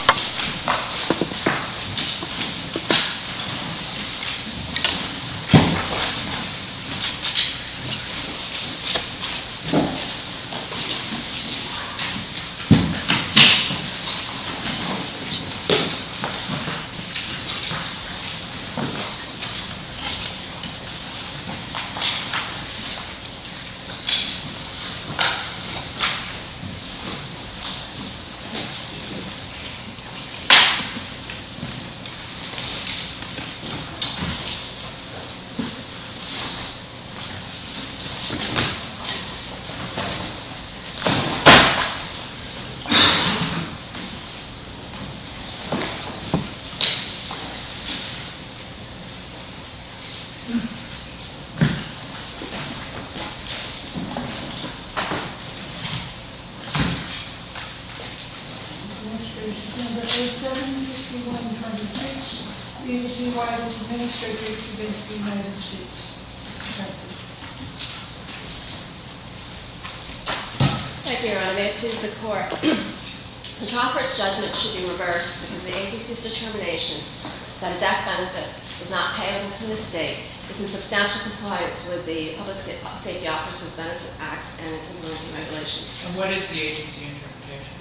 and will remain in challenge until it is sufficiently decreased. Understand? Okay. Thank you. Thank you. Thank you. Thank you Your Honor, may it please the court. The top court's judgment should be reversed because the agency's determination that a death benefit is not payable to the state is in substantial compliance with the Public Safety Officers Benefit Act and its immunity regulations. And what is the agency interpretation?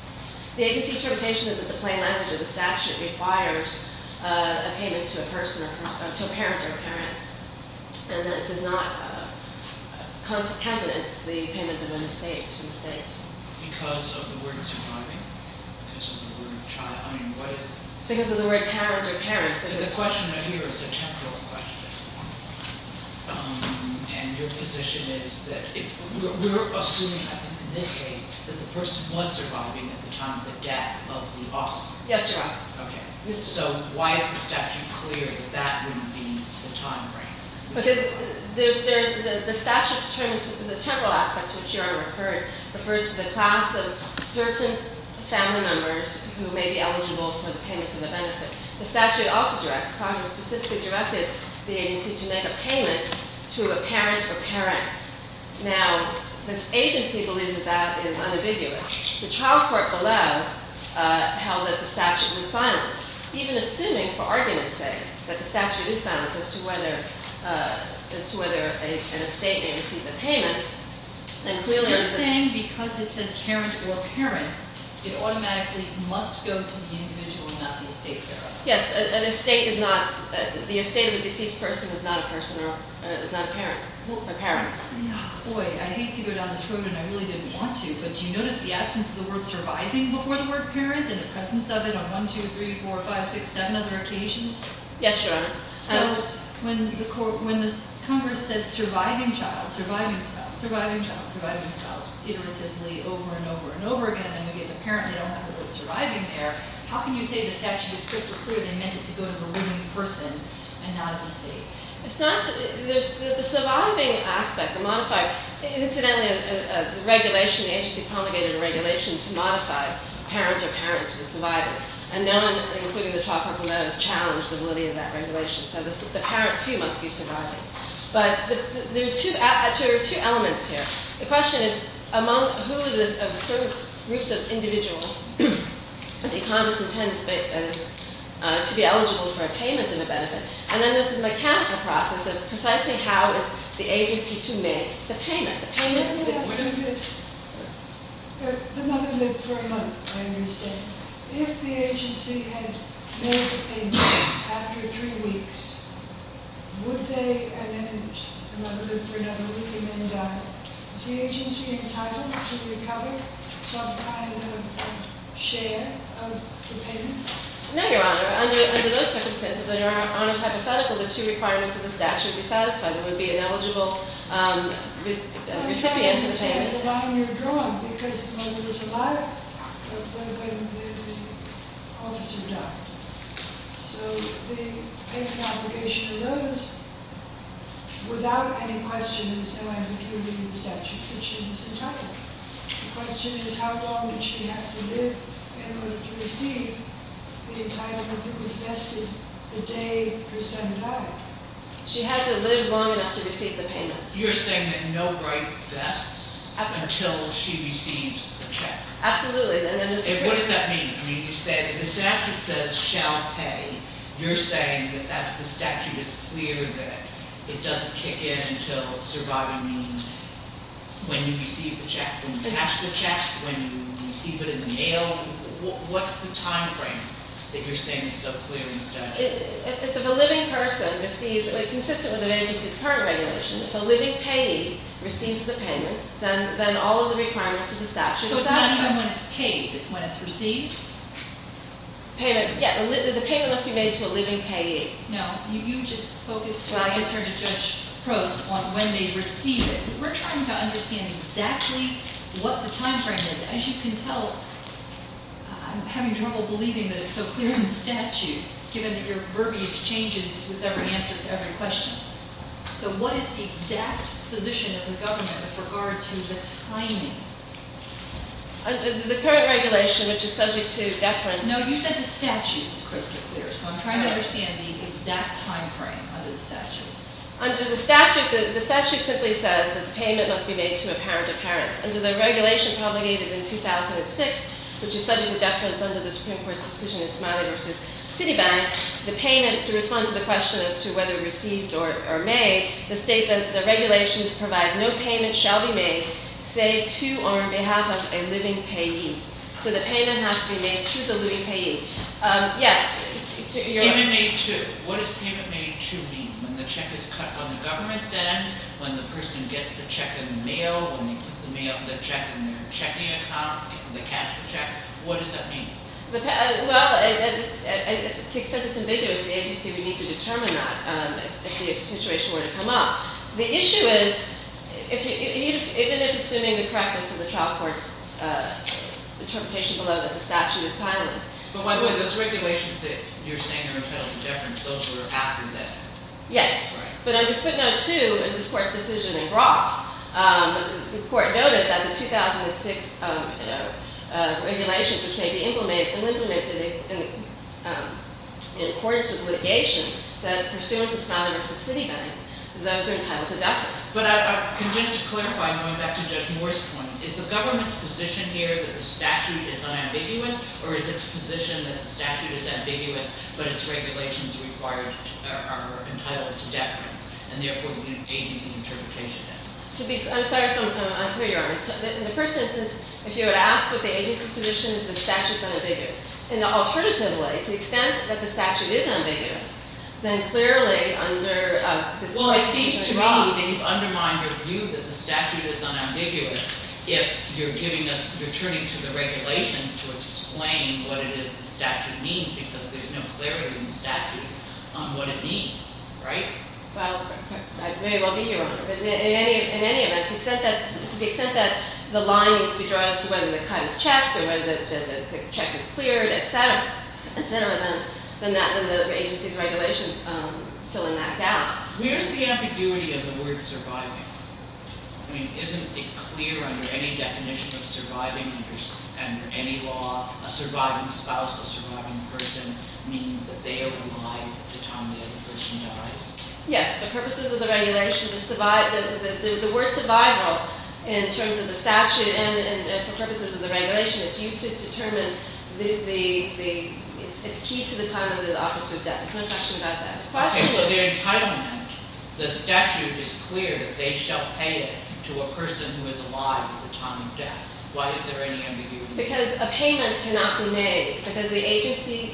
The agency interpretation is that the plain language of the statute requires a payment to a person or to a parent or parents and that it does not countenance the payment of an estate to the state. Because of the word surviving, because of the word child, I mean what is- Because of the word parent or parents, because- The question right here is a temporal question, Your Honor, and your position is that we're assuming, I think in this case, that the person was surviving at the time of the death of the officer. Yes, Your Honor. Okay, so why is the statute clear that that would be the time frame? Because the statute determines the temporal aspect, which Your Honor referred, refers to the class of certain family members who may be eligible for the payment to the benefit. The statute also directs, Congress specifically directed the agency to make a payment to a parent or parents. Now, this agency believes that that is unambiguous. The child court below held that the statute was silent. Even assuming, for argument's sake, that the statute is silent as to whether an estate may receive a payment, and clearly- You're saying because it says parent or parents, it automatically must go to the individual, not the estate, Your Honor. Yes, an estate is not, the estate of a deceased person is not a person or is not a parent or parents. Boy, I hate to go down this road, and I really didn't want to, but do you notice the absence of the word surviving before the word parent, and the presence of it on one, two, three, four, five, six, seven other occasions? Yes, Your Honor. So, when the Congress said surviving child, surviving spouse, surviving child, surviving spouse, iteratively over and over and over again, then we get to parent, they don't have the word surviving there. How can you say the statute is crystal clear, they meant it to go to the woman in person and not at the state? It's not, the surviving aspect, the modified, incidentally, the regulation, the agency promulgated a regulation to modify parent or parents for surviving. And no one, including the 12 companies, challenged the validity of that regulation, so the parent, too, must be surviving. But there are two elements here. The question is, among who are these groups of individuals that the Congress intends to be eligible for a payment and a benefit. And then there's a mechanical process of precisely how is the agency to make the payment. The payment- I'm going to ask you this, but the mother lived for a month, I understand. If the agency had made the payment after three weeks, would they, and then the mother lived for another week, and then died? Is the agency entitled to recover some kind of share of the payment? No, Your Honor, under those circumstances, under our hypothetical, the two requirements of the statute would be satisfied. There would be an eligible recipient to the payment. I understand the line you're drawing, because the mother was alive when the officer died. So the payment obligation of those, without any question, there's no ambiguity in the statute, which means it's entitled. The question is, how long did she have to live in order to receive the entitlement that was vested the day her son died? She had to live long enough to receive the payment. You're saying that no right vests until she receives the check? Absolutely, and then the- What does that mean? I mean, you said, if the statute says shall pay, you're saying that the statute is clear that it doesn't kick in until surviving means, when you receive the check, when you cash the check, when you receive it in the mail. What's the time frame that you're saying is so clear in the statute? If a living person receives, consistent with the agency's current regulation, if a living payee receives the payment, then all of the requirements of the statute is satisfied. So it's not even when it's paid, it's when it's received? Payment, yeah, the payment must be made to a living payee. No, you just focused on the attorney judge's prose on when they receive it. We're trying to understand exactly what the time frame is. As you can tell, I'm having trouble believing that it's so clear in the statute, given that your verbiage changes with every answer to every question. So what is the exact position of the government with regard to the timing? The current regulation, which is subject to deference. No, you said the statute was crystal clear. So I'm trying to understand the exact time frame under the statute. Under the statute, the statute simply says that the payment must be made to a parent of parents. Under the regulation promulgated in 2006, which is subject to deference under the Supreme Court's decision in Smiley v. Citibank, the payment, to respond to the question as to whether received or made, the state that the regulations provides no payment shall be made, say, to or on behalf of a living payee. So the payment has to be made to the living payee. Yes, you're- Payment made to, what does payment made to mean? When the check is cut on the government's end, when the person gets the check in the mail, when you put the mail, the check in their checking account, the cash for check, what does that mean? Well, to extent it's ambiguous, the agency would need to determine that if the situation were to come up. The issue is, even if assuming the correctness of the trial court's interpretation below that the statute is silent. But by the way, those regulations that you're saying are entitled to deference, those were after this. Yes, but under footnote two in this court's decision in Roth, the court noted that the 2006 regulations which may be implemented in accordance with litigation that pursuant to Smiley v. Citibank, those are entitled to deference. But I can just clarify, going back to Judge Moore's point. Is the government's position here that the statute is unambiguous? Or is its position that the statute is ambiguous, but its regulations are entitled to deference? And therefore, the agency's interpretation is. I'm sorry if I'm unclear, Your Honor. In the first instance, if you were to ask what the agency's position is, the statute's unambiguous. And alternatively, to the extent that the statute is ambiguous, then clearly under this- Well, it seems to me that you've undermined your view that the statute is unambiguous. If you're giving us, you're turning to the regulations to explain what it is the statute means, because there's no clarity in the statute on what it means, right? Well, I may well be here, Your Honor, but in any event, to the extent that the line needs to be drawn as to whether the cut is checked, or whether the check is cleared, etc., etc., then the agency's regulations fill in that gap. Where's the ambiguity of the word surviving? I mean, isn't it clear under any definition of surviving, under any law, a surviving spouse, a surviving person means that they are alive to time the other person dies? Yes, for purposes of the regulation, the word survival, in terms of the statute and for purposes of the regulation, it's used to determine the, it's key to the time of the officer's death. There's no question about that. The question was- Okay, so the entitlement, the statute is clear that they shall pay it to a person who is alive at the time of death. Why is there any ambiguity? Because a payment cannot be made, because the agency,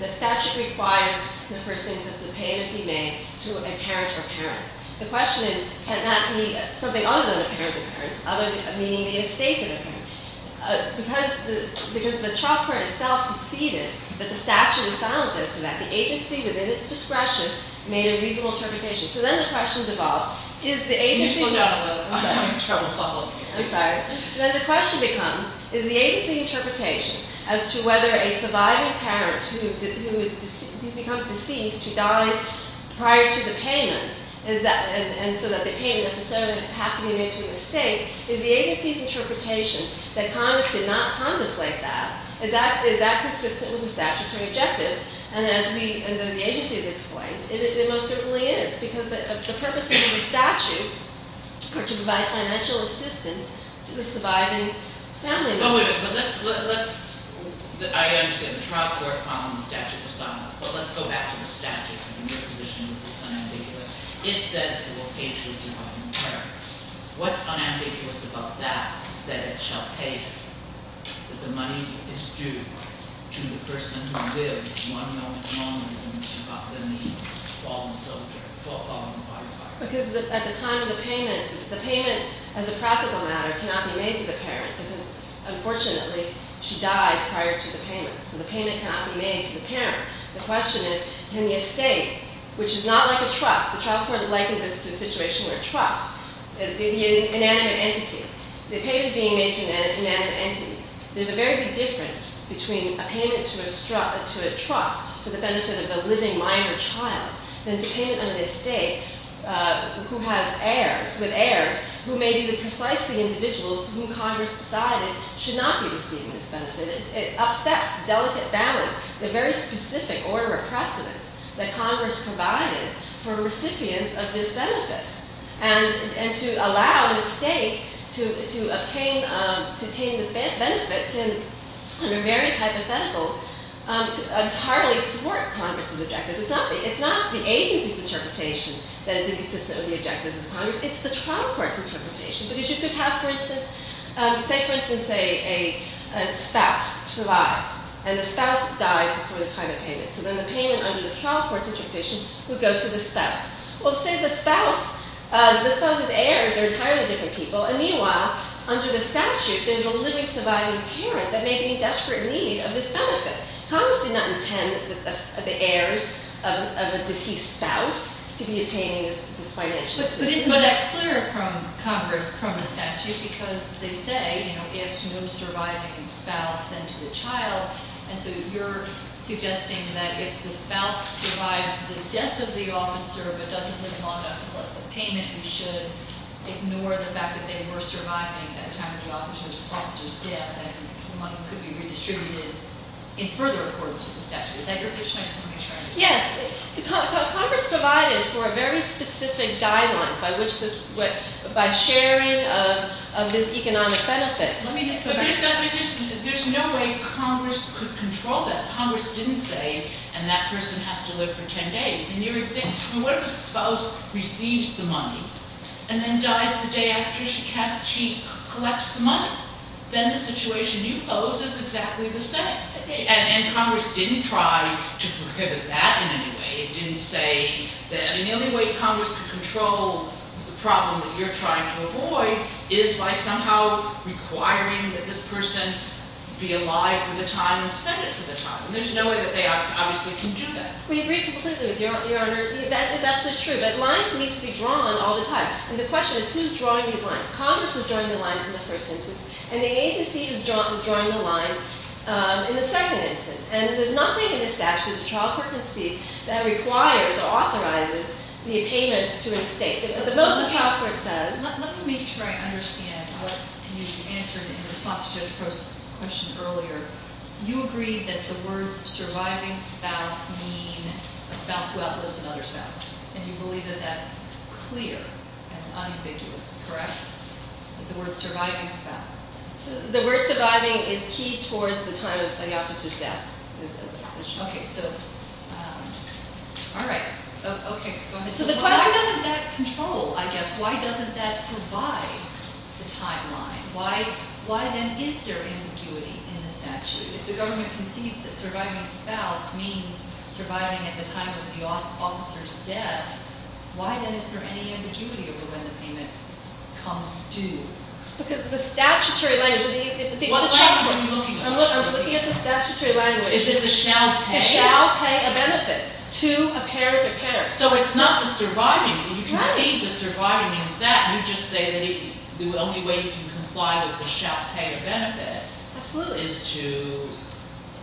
the statute requires the first instance of the payment be made to a parent or parents. The question is, can that be something other than a parent or parents, meaning the estate of a parent? Because the trial court itself conceded that the statute is silent as to that. The agency, within its discretion, made a reasonable interpretation. So then the question devolves, is the agency- I'm having trouble following you. I'm sorry. Then the question becomes, is the agency's interpretation as to whether a surviving parent who becomes deceased, who dies prior to the payment, and so that the payment necessarily has to be made to an estate, is the agency's interpretation that Congress did not contemplate that, is that consistent with the statutory objectives? And as the agency has explained, it most certainly is, because the purposes of the statute are to provide financial assistance to the surviving family members. But let's, I understand, the trial court found the statute was silent. But let's go back to the statute, and your position is it's unambiguous. It says it will pay to a surviving parent. What's unambiguous about that, that it shall pay? That the money is due to the person who lived one moment longer than the following part of time. Because at the time of the payment, the payment, as a practical matter, cannot be made to the parent. Because unfortunately, she died prior to the payment. So the payment cannot be made to the parent. The question is, can the estate, which is not like a trust, the trial court likened this to a situation where trust, the inanimate entity, the payment is being made to an inanimate entity. There's a very big difference between a payment to a trust for the benefit of a living minor child, than to payment on an estate who has heirs, with heirs, who may be the precisely individuals whom Congress decided should not be receiving this benefit. It upsteps the delicate balance, the very specific order of precedence, that Congress provided for recipients of this benefit. And to allow an estate to obtain this benefit can, under various hypotheticals, entirely thwart Congress's objective. It's not the agency's interpretation that is inconsistent with the objectives of Congress. It's the trial court's interpretation. Because you could have, for instance, say for instance a spouse survives. And the spouse dies before the time of payment. So then the payment under the trial court's interpretation would go to the spouse. Well, say the spouse, the spouse's heirs are entirely different people. And meanwhile, under the statute, there's a living surviving parent that may be in desperate need of this benefit. Congress did not intend the heirs of a deceased spouse to be obtaining this financial assistance. But it's not clear from Congress, from the statute, because they say, you know, if no surviving spouse, then to the child. And so you're suggesting that if the spouse survives the death of the officer, but doesn't live long enough to pay the payment, you should ignore the fact that they were surviving at the time of the officer's death. And the money could be redistributed in further accordance with the statute. Is that your position? I just want to make sure I understand. Yes, Congress provided for a very specific guideline by sharing of this economic benefit. Let me just put it. There's no way Congress could control that. Congress didn't say, and that person has to live for ten days. And you're saying, what if a spouse receives the money and then dies the day after she collects the money? Then the situation you pose is exactly the same. And Congress didn't try to prohibit that in any way. It didn't say that, and the only way Congress could control the problem that you're trying to avoid is by somehow requiring that this person be alive for the time and spend it for the time. And there's no way that they obviously can do that. We agree completely with you, Your Honor. That is absolutely true, but lines need to be drawn all the time. And the question is, who's drawing these lines? Congress is drawing the lines in the first instance, and the agency is drawing the lines in the second instance. And there's nothing in this statute, as the trial court concedes, that requires or authorizes the payment to an estate. The most the trial court says. Let me try to understand what you answered in response to Judge Post's question earlier. You agreed that the words surviving spouse mean a spouse who outlives another spouse. And you believe that that's clear and unambiguous, correct? The word surviving spouse. The word surviving is key towards the time of the officer's death. Okay, so, all right. Okay, go ahead. So, why doesn't that control, I guess? Why doesn't that provide the timeline? Why then is there ambiguity in the statute? If the government concedes that surviving spouse means surviving at the time of the officer's death, why then is there any ambiguity over when the payment comes due? Because the statutory language, what language are you looking at? I'm looking at the statutory language. Is it the shall pay? The shall pay a benefit to a pair to pair. So, it's not the surviving, and you can see the surviving means that. You just say that the only way you can comply with the shall pay a benefit is to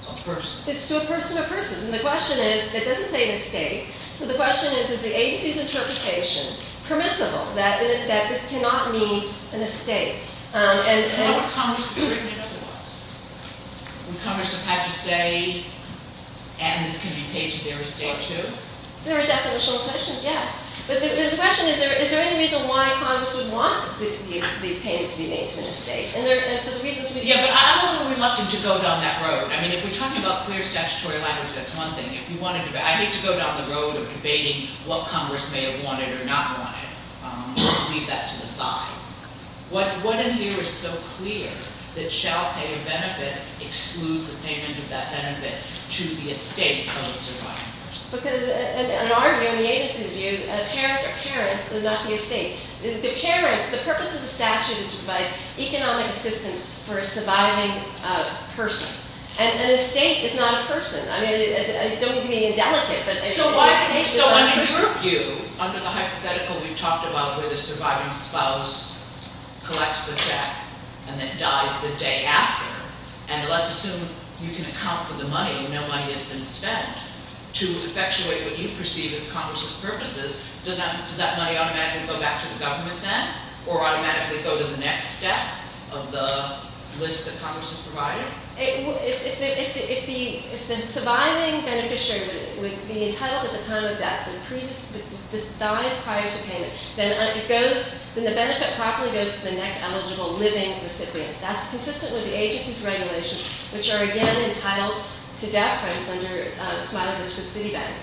a person. It's to a person of persons. And the question is, it doesn't say an estate. So, the question is, is the agency's interpretation permissible? That this cannot mean an estate. And- And would Congress have written it otherwise? Would Congress have had to say, and this can be paid to their estate too? There are definitional sections, yes. But the question is, is there any reason why Congress would want the payment to be made to an estate? And for the reason to be- Yeah, but I'm a little reluctant to go down that road. I mean, if we're talking about clear statutory language, that's one thing. If you wanted to, I hate to go down the road of debating what Congress may have wanted or not wanted. Let's leave that to the side. What in here is so clear that shall pay a benefit excludes the payment of that benefit to the estate of survivors? Because an argument in the agency's view, a parent or parents is not the estate. The parents, the purpose of the statute is to provide economic assistance for a surviving person. And an estate is not a person. I mean, don't get me indelicate, but an estate is not a person. So, under group view, under the hypothetical we talked about where the surviving spouse collects the check and then dies the day after. And let's assume you can account for the money when no money has been spent. To effectuate what you perceive as Congress's purposes, does that money automatically go back to the government then? Or automatically go to the next step of the list that Congress has provided? If the surviving beneficiary would be entitled at the time of death and dies prior to payment, then the benefit probably goes to the next eligible living recipient. That's consistent with the agency's regulations, which are again entitled to death, for instance, under Smiley versus Citibank.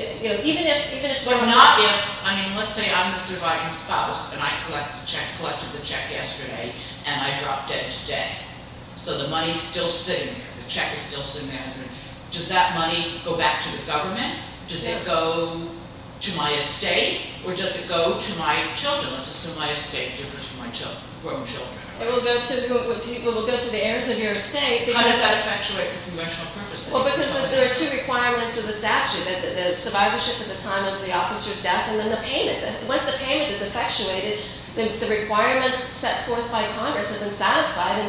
Even if it's not, if, I mean, let's say I'm the surviving spouse, and I collected the check yesterday, and I dropped dead today. So the money's still sitting there, the check is still sitting there. Does that money go back to the government? Does it go to my estate? Or does it go to my children? So let's assume my estate differs from my grown children. It will go to the heirs of your estate. How does that effectuate the conventional purpose? Well, because there are two requirements of the statute, the survivorship at the time of the officer's death, and then the payment. Once the payment is effectuated, the requirements set forth by Congress have been satisfied,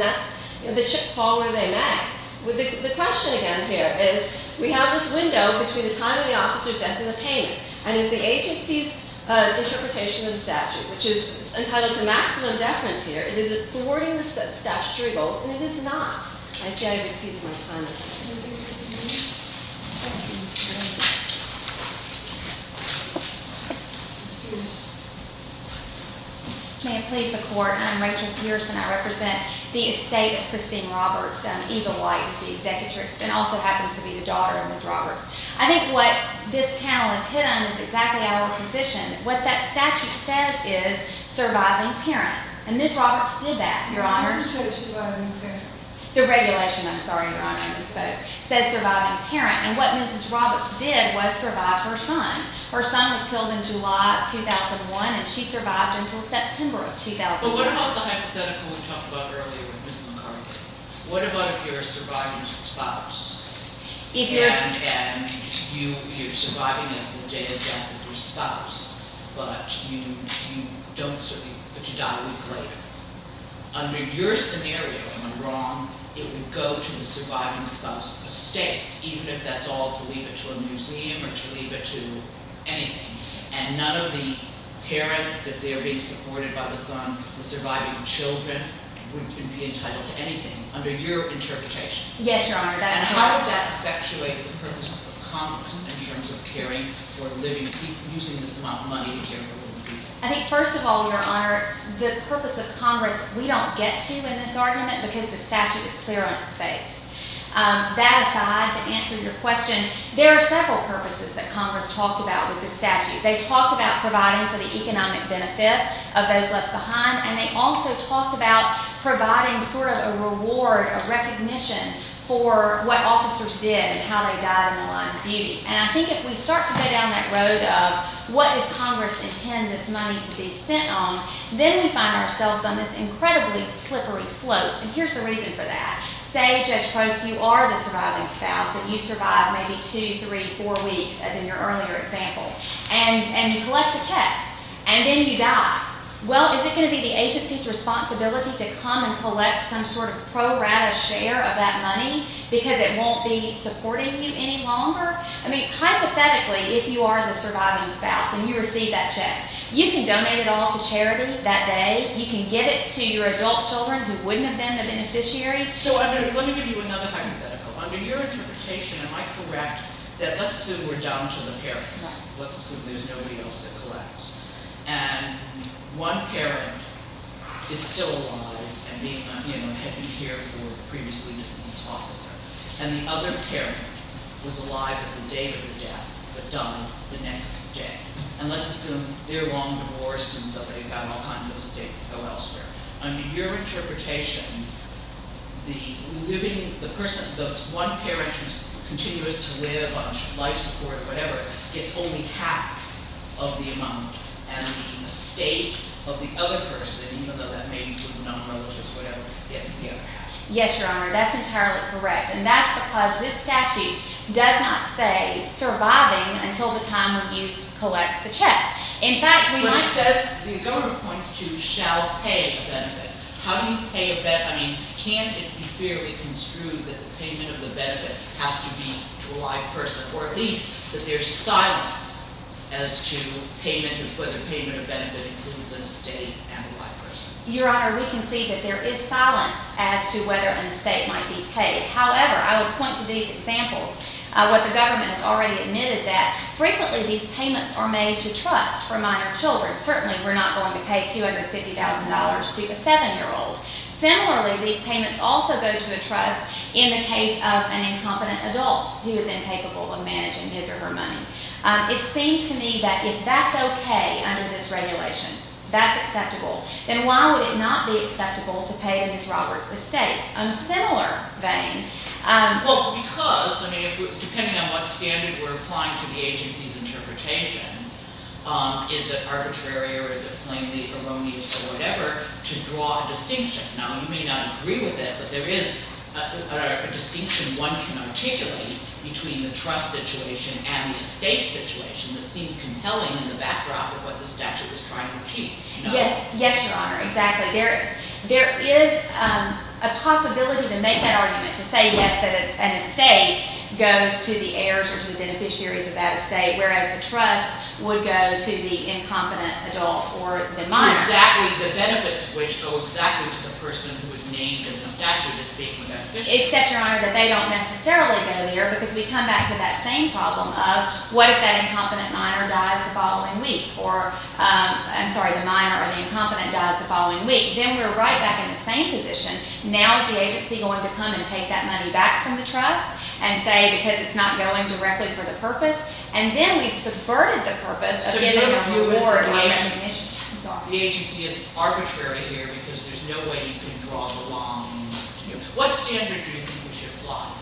and the chips fall where they may. The question again here is, we have this window between the time of the officer's death and the payment. And is the agency's interpretation of the statute, which is entitled to maximum deference here, is it thwarting the statutory goals? And it is not. I see I've exceeded my time. May it please the court, I'm Rachel Pearson, I represent the estate of Christine Roberts. And Eva White is the executor, and also happens to be the daughter of Ms. Roberts. I think what this panel has hit on is exactly our position. What that statute says is surviving parent. And Ms. Roberts did that, your honor. Who says surviving parent? The regulation, I'm sorry, your honor, I misspoke. Says surviving parent, and what Mrs. Roberts did was survive her son. Her son was killed in July of 2001, and she survived until September of 2008. But what about the hypothetical we talked about earlier with Ms. McCarthy? What about if you're a surviving spouse? And you're surviving as the day of death of your spouse, but you don't survive, but you die a week later. Under your scenario, if I'm wrong, it would go to the surviving spouse's estate, even if that's all to leave it to a museum or to leave it to anything. And none of the parents, if they're being supported by the son, the surviving children would be entitled to anything under your interpretation. Yes, your honor, that is correct. And how would that effectuate the purpose of Congress in terms of caring for living people, using this amount of money to care for living people? I think first of all, your honor, the purpose of Congress, we don't get to in this argument because the statute is clear on its face. That aside, to answer your question, there are several purposes that Congress talked about with this statute. They talked about providing for the economic benefit of those left behind, and they also talked about providing sort of a reward, a recognition for what officers did and how they died in the line of duty. And I think if we start to go down that road of what did Congress intend this money to be spent on, then we find ourselves on this incredibly slippery slope. And here's the reason for that. Say, Judge Post, you are the surviving spouse, and you survive maybe two, three, four weeks, as in your earlier example. And you collect the check, and then you die. Well, is it going to be the agency's responsibility to come and collect some sort of pro-rata share of that money because it won't be supporting you any longer? I mean, hypothetically, if you are the surviving spouse and you receive that check, you can donate it all to charity that day. You can give it to your adult children who wouldn't have been the beneficiaries. So let me give you another hypothetical. Under your interpretation, am I correct that, let's assume we're down to the parent, let's assume there's nobody else that collapsed, and one parent is still alive and had been here for a previously dismissed officer, and the other parent was alive at the date of the death but died the next day. And let's assume they're long divorced and so they've got all kinds of estates that go elsewhere. Under your interpretation, the living, the person, those one parent who's continuous to live on life support, whatever, gets only half of the amount, and the estate of the other person, even though that may be to a number, which is whatever, gets the other half. Yes, Your Honor, that's entirely correct. And that's because this statute does not say surviving until the time you collect the check. In fact, we might- But it says, the governor points to shall pay a benefit. How do you pay a benefit? I mean, can it be fairly construed that the payment of the benefit has to be to a live person, or at least that there's silence as to payment, whether payment of benefit includes an estate and a live person? Your Honor, we can see that there is silence as to whether an estate might be paid. However, I would point to these examples, what the government has already admitted that frequently these payments are made to trust for minor children. Certainly, we're not going to pay $250,000 to a seven-year-old. Similarly, these payments also go to a trust in the case of an incompetent adult who is incapable of managing his or her money. It seems to me that if that's okay under this regulation, that's acceptable, then why would it not be acceptable to pay a Ms. Roberts estate? On a similar vein- Well, because, I mean, depending on what standard we're applying to the agency's interpretation, to draw a distinction. Now, you may not agree with it, but there is a distinction one can articulate between the trust situation and the estate situation that seems compelling in the backdrop of what the statute is trying to achieve. Yes, Your Honor, exactly. There is a possibility to make that argument, to say, yes, that an estate goes to the heirs or to the beneficiaries of that estate, whereas the trust would go to the incompetent adult or the minor. Exactly, the benefits of which go exactly to the person who is named in the statute, is speaking of that distinction. Except, Your Honor, that they don't necessarily go there, because we come back to that same problem of, what if that incompetent minor dies the following week? Or, I'm sorry, the minor or the incompetent dies the following week? Then we're right back in the same position. Now is the agency going to come and take that money back from the trust and say, because it's not going directly for the purpose? And then we've subverted the purpose of giving a reward by recognition. The agency is arbitrary here, because there's no way you can draw the line. What standard do you think we should apply?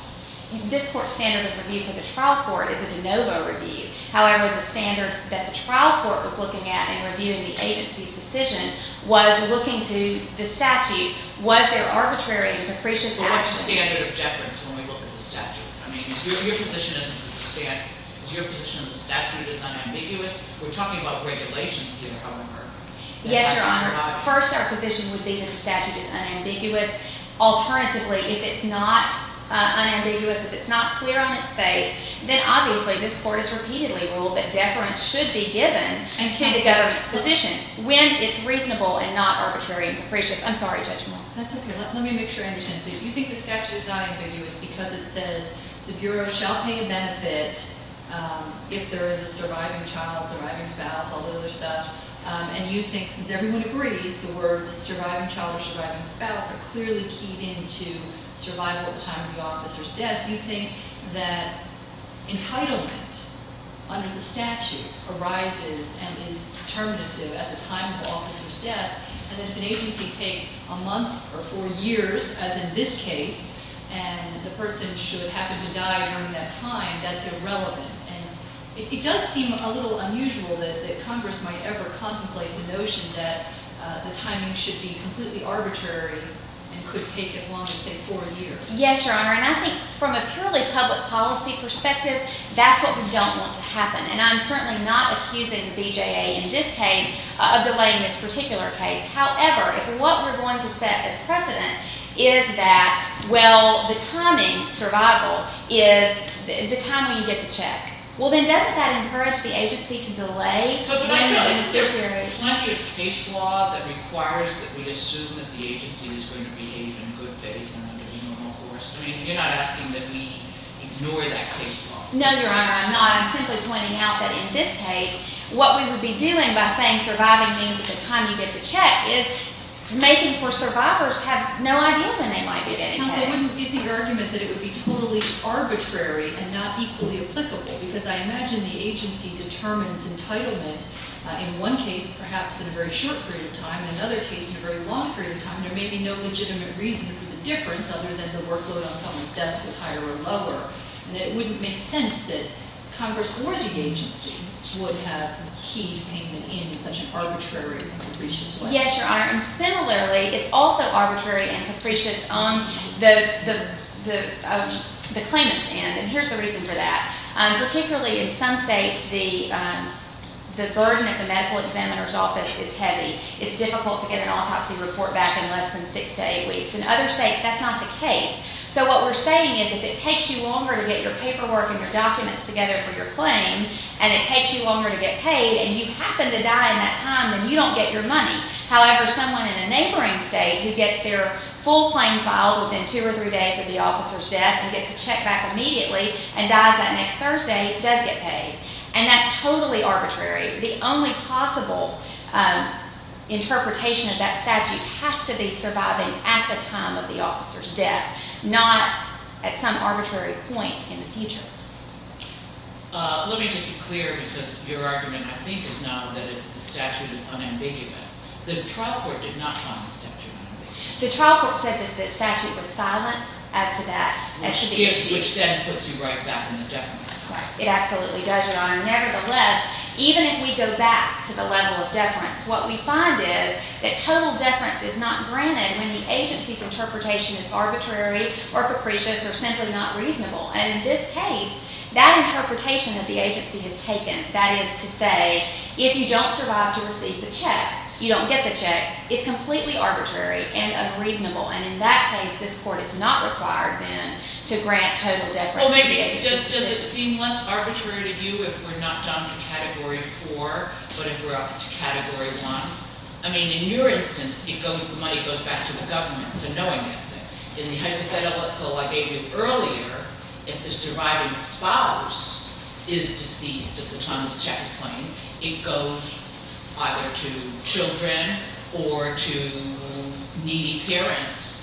This court's standard of review for the trial court is a de novo review. However, the standard that the trial court was looking at in reviewing the agency's decision was looking to the statute. Was there arbitrary and superficial action? But what's the standard of deference when we look at the statute? I mean, is your position of the statute as unambiguous? We're talking about regulations here, however. Yes, Your Honor. First, our position would be that the statute is unambiguous. Alternatively, if it's not unambiguous, if it's not clear on its face, then obviously this court has repeatedly ruled that deference should be given to the government's position when it's reasonable and not arbitrary and superficial. I'm sorry, Judge Moore. That's OK. Let me make sure I understand. You think the statute is not ambiguous because it says, the Bureau shall pay a benefit if there is a surviving child, surviving spouse, all the other stuff. And you think, since everyone agrees, the words surviving child or surviving spouse are clearly keyed into survival at the time of the officer's death. You think that entitlement under the statute arises and is determinative at the time of the officer's death. And if an agency takes a month or four years, as in this case, and the person should happen to die during that time, that's irrelevant. It does seem a little unusual that Congress might ever contemplate the notion that the timing should be completely arbitrary and could take as long as, say, four years. Yes, Your Honor. And I think from a purely public policy perspective, that's what we don't want to happen. And I'm certainly not accusing the BJA in this case of delaying this particular case. However, what we're going to set as precedent is that, well, the timing, survival, is the time when you get the check. Well, then doesn't that encourage the agency to delay when it's necessary? But there's plenty of case law that requires that we assume that the agency is going to behave in good faith and under the normal course. I mean, you're not asking that we ignore that case law. No, Your Honor, I'm not. I'm simply pointing out that in this case, what we would be doing by saying surviving means the time you get the check is making for survivors have no idea when they might be getting it. Counsel, isn't your argument that it would be totally arbitrary and not equally applicable? Because I imagine the agency determines entitlement in one case, perhaps in a very short period of time, in another case, in a very long period of time. There may be no legitimate reason for the difference other than the workload on someone's desk was higher or lower. And it wouldn't make sense that Congress or the agency would have the key detainment in such an arbitrary and capricious way. Yes, Your Honor. And similarly, it's also arbitrary and capricious on the claimant's end. And here's the reason for that. Particularly in some states, the burden at the medical examiner's office is heavy. It's difficult to get an autopsy report back in less than six to eight weeks. In other states, that's not the case. So what we're saying is, if it takes you longer to get your paperwork and your documents together for your claim, and it takes you longer to get paid, and you happen to die in that time, then you don't get your money. However, someone in a neighboring state who gets their full claim filed within two or three days of the officer's death and gets a check back immediately, and dies that next Thursday, does get paid. And that's totally arbitrary. The only possible interpretation of that statute has to be surviving at the time of the officer's death, not at some arbitrary point in the future. Let me just be clear, because your argument, I think, is now that the statute is unambiguous. The trial court did not find the statute unambiguous. The trial court said that the statute was silent as to that. Which then puts you right back in the deference. It absolutely does, Your Honor. Nevertheless, even if we go back to the level of deference, what we find is that total deference is not granted when the agency's interpretation is arbitrary or capricious or simply not reasonable. And in this case, that interpretation that the agency has taken, that is to say, if you don't survive to receive the check, you don't get the check, is completely arbitrary and unreasonable. And in that case, this court is not required, then, to grant total deference to the agency. Well, maybe, does it seem less arbitrary to you if we're not down to category four, but if we're up to category one? I mean, in your instance, it goes, the money goes back to the government, so in the hypothetical I gave you earlier, if the surviving spouse is deceased at the time of the check is claimed, it goes either to children or to needy parents.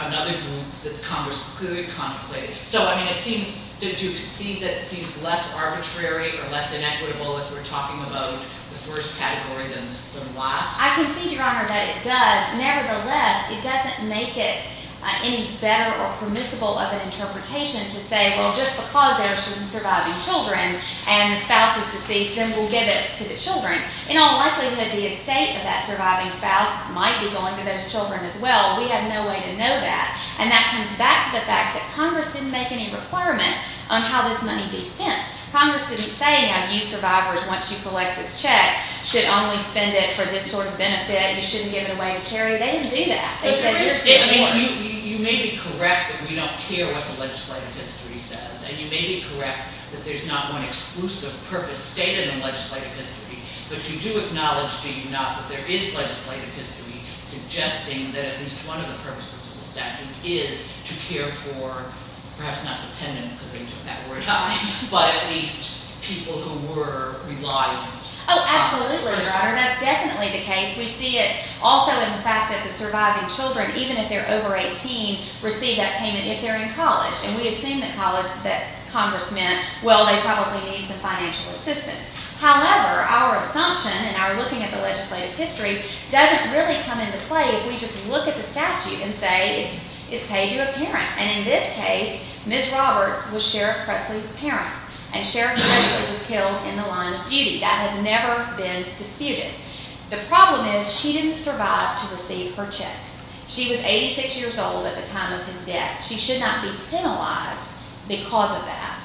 Another group that Congress could contemplate. So, I mean, it seems, did you concede that it seems less arbitrary or less inequitable if we're talking about the first category than the last? I concede, Your Honor, that it does. Nevertheless, it doesn't make it any better or permissible of an interpretation to say, well, just because there's some surviving children and the spouse is deceased, then we'll give it to the children. In all likelihood, the estate of that surviving spouse might be going to those children as well. We have no way to know that. And that comes back to the fact that Congress didn't make any requirement on how this money be spent. Congress didn't say, now you survivors, once you collect this check, should only spend it for this sort of benefit. You shouldn't give it away to charity. They didn't do that. They said, you're still a part of it. You may be correct that we don't care what the legislative history says. And you may be correct that there's not one exclusive purpose stated in the legislative history. But you do acknowledge, do you not, that there is legislative history suggesting that at least one of the purposes of the statute is to care for, perhaps not dependent, because they took that word out, but at least people who were reliant on- Absolutely, that's definitely the case. We see it also in the fact that the surviving children, even if they're over 18, receive that payment if they're in college. And we assume that Congress meant, well, they probably need some financial assistance. However, our assumption and our looking at the legislative history doesn't really come into play if we just look at the statute and say it's paid to a parent. And in this case, Ms. Roberts was Sheriff Presley's parent. And Sheriff Presley was killed in the line of duty. That has never been disputed. The problem is, she didn't survive to receive her check. She was 86 years old at the time of his death. She should not be penalized because of that.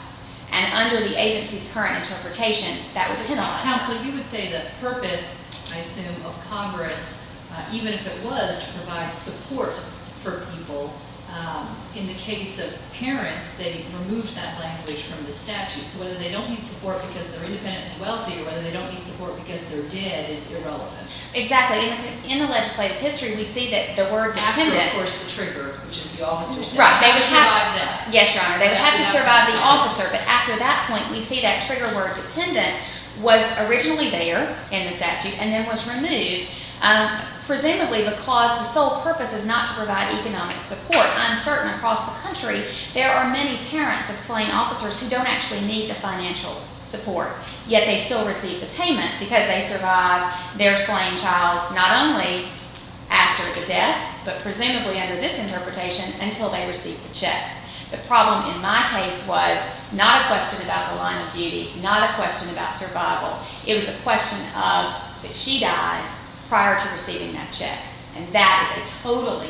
And under the agency's current interpretation, that was penalized. Counsel, you would say the purpose, I assume, of Congress, even if it was to provide support for people, in the case of parents, they removed that language from the statute. So whether they don't need support because they're independently wealthy or whether they don't need support because they're dead is irrelevant. Exactly. In the legislative history, we see that the word dependent- After, of course, the trigger, which is the officer's death. Right. They would have- How to survive that. Yes, Your Honor. They would have to survive the officer. But after that point, we see that trigger word dependent was originally there in the statute and then was removed, presumably because the sole purpose is not to provide economic support. I'm certain across the country, there are many parents of slain officers who don't actually need the financial support, yet they still receive the payment because they survived their slain child, not only after the death, but presumably under this interpretation, until they received the check. The problem in my case was not a question about the line of duty, not a question about survival. It was a question of that she died prior to receiving that check. And that is a totally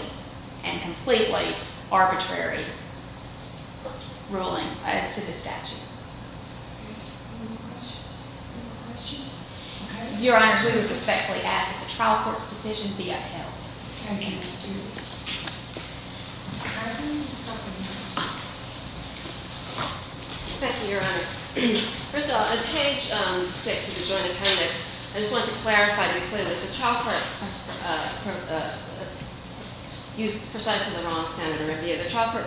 and completely arbitrary ruling as to the statute. Any more questions? Any more questions? Okay. Your Honors, we would respectfully ask that the trial court's decision be upheld. Thank you. Thank you, Your Honor. First of all, on page six of the joint appendix, I just want to clarify to be clear that the trial court used precisely the wrong standard of review. The trial court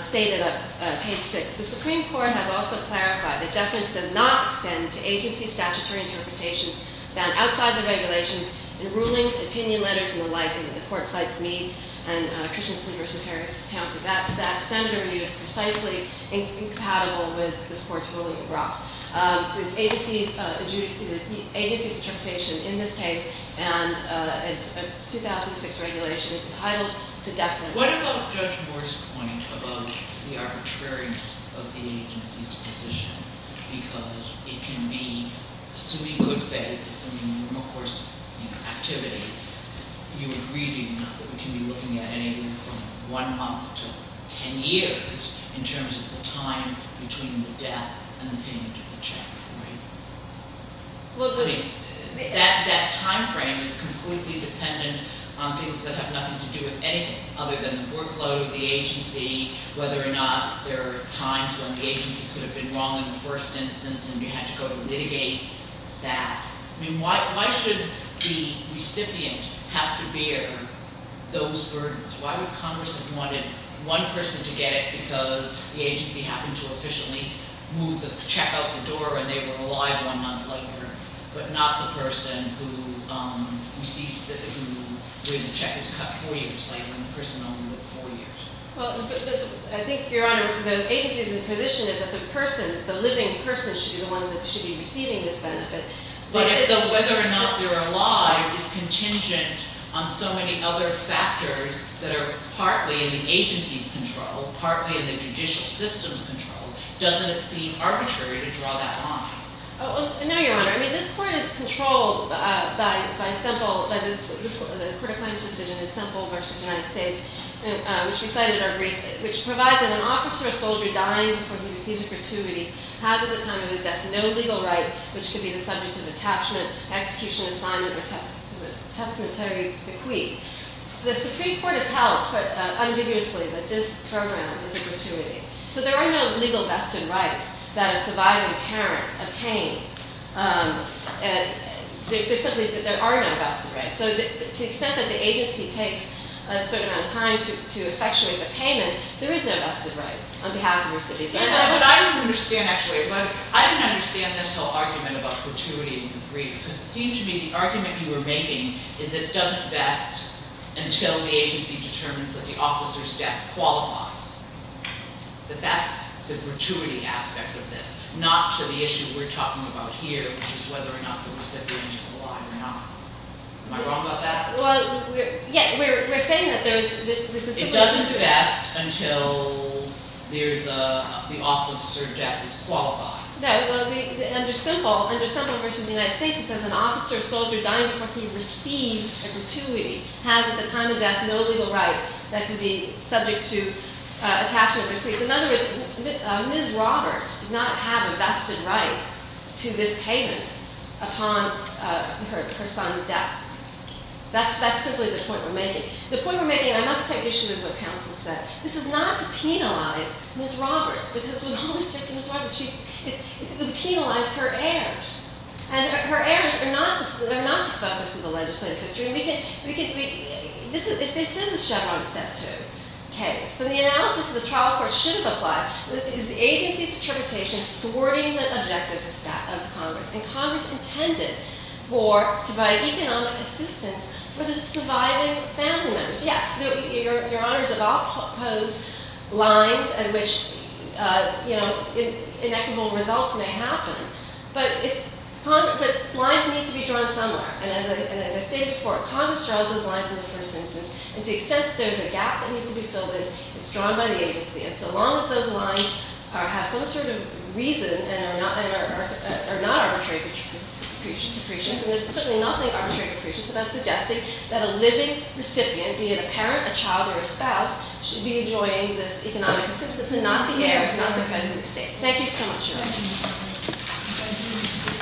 stated on page six, the Supreme Court has also clarified that deference does not extend to agency statutory interpretations found outside the regulations in rulings, opinion letters, and the like. And the court cites me and Christensen v. Harris. That standard of review is precisely incompatible with this court's ruling. The agency's interpretation in this case and its 2006 regulation is entitled to deference. What about Judge Moore's point about the arbitrariness of the agency's position? Because it can be, assuming good faith, assuming normal course of activity, you are reading enough that we can be looking at anything from one month to ten years, in terms of the time between the death and the payment of the check, right? Well, that timeframe is completely dependent on things that have nothing to do with anything other than the workload of the agency, whether or not there are times when the agency could have been wrong in the first instance and you had to go to litigate that. I mean, why should the recipient have to bear those burdens? Why would Congress have wanted one person to get it because the agency happened to officially move the check out the door and they were alive one month later, but not the person who receives the, who when the check is cut four years later and the person only lived four years? Well, I think, Your Honor, the agency's position is that the person, the living person should be the one that should be receiving this benefit. But whether or not they're alive is contingent on so many other factors that are partly in the agency's control, partly in the judicial system's control. Doesn't it seem arbitrary to draw that line? No, Your Honor. I mean, this court is controlled by Semple, the court of claims decision in Semple v. United States, which recited our brief, which provides that an officer or soldier dying before he receives a gratuity has at the time of his death no legal right which could be the subject of attachment, execution, assignment, or testamentary bequeath. The Supreme Court has held unambiguously that this program is a gratuity. So there are no legal vested rights that a surviving parent attains. There simply, there are no vested rights. So to the extent that the agency takes a certain amount of time to effectuate the payment, there is no vested right on behalf of the recipient. But I don't understand, actually, but I don't understand this whole argument about gratuity in the brief. Because it seemed to me the argument you were making is that it doesn't vest until the agency determines that the officer's death qualifies. That that's the gratuity aspect of this, not to the issue we're talking about here, which is whether or not the recipient is alive or not. Am I wrong about that? Well, yeah, we're saying that there is, this is simply true. It doesn't vest until there's a, the officer's death is qualified. No, well, under Semple, under Semple v. United States, it says an officer or soldier dying before he receives a gratuity has at the time of death no legal right that can be subject to attachment of the creed. In other words, Ms. Roberts did not have a vested right to this payment upon her son's death. That's simply the point we're making. The point we're making, and I must take issue with what counsel said, this is not to penalize Ms. Roberts, because with all respect to Ms. Roberts, it's to penalize her heirs. And her heirs are not the focus of the legislative history. If this is a Chevron Step 2 case, then the analysis of the trial court should have applied, is the agency's interpretation thwarting the objectives of Congress, and Congress intended for, to provide economic assistance for the surviving family members. Yes, Your Honors, I'll pose lines at which, you know, inequitable results may happen, but lines need to be drawn somewhere. And as I stated before, Congress draws those lines in the first instance, and to the extent that there's a gap that needs to be filled in, it's drawn by the agency. And so long as those lines have some sort of reason and are not arbitrary capricious, and there's certainly nothing arbitrary capricious about suggesting that a living recipient, be it a parent, a child, or a spouse, should be enjoying this economic assistance, and not the heirs, not the present estate. Thank you so much, Your Honors.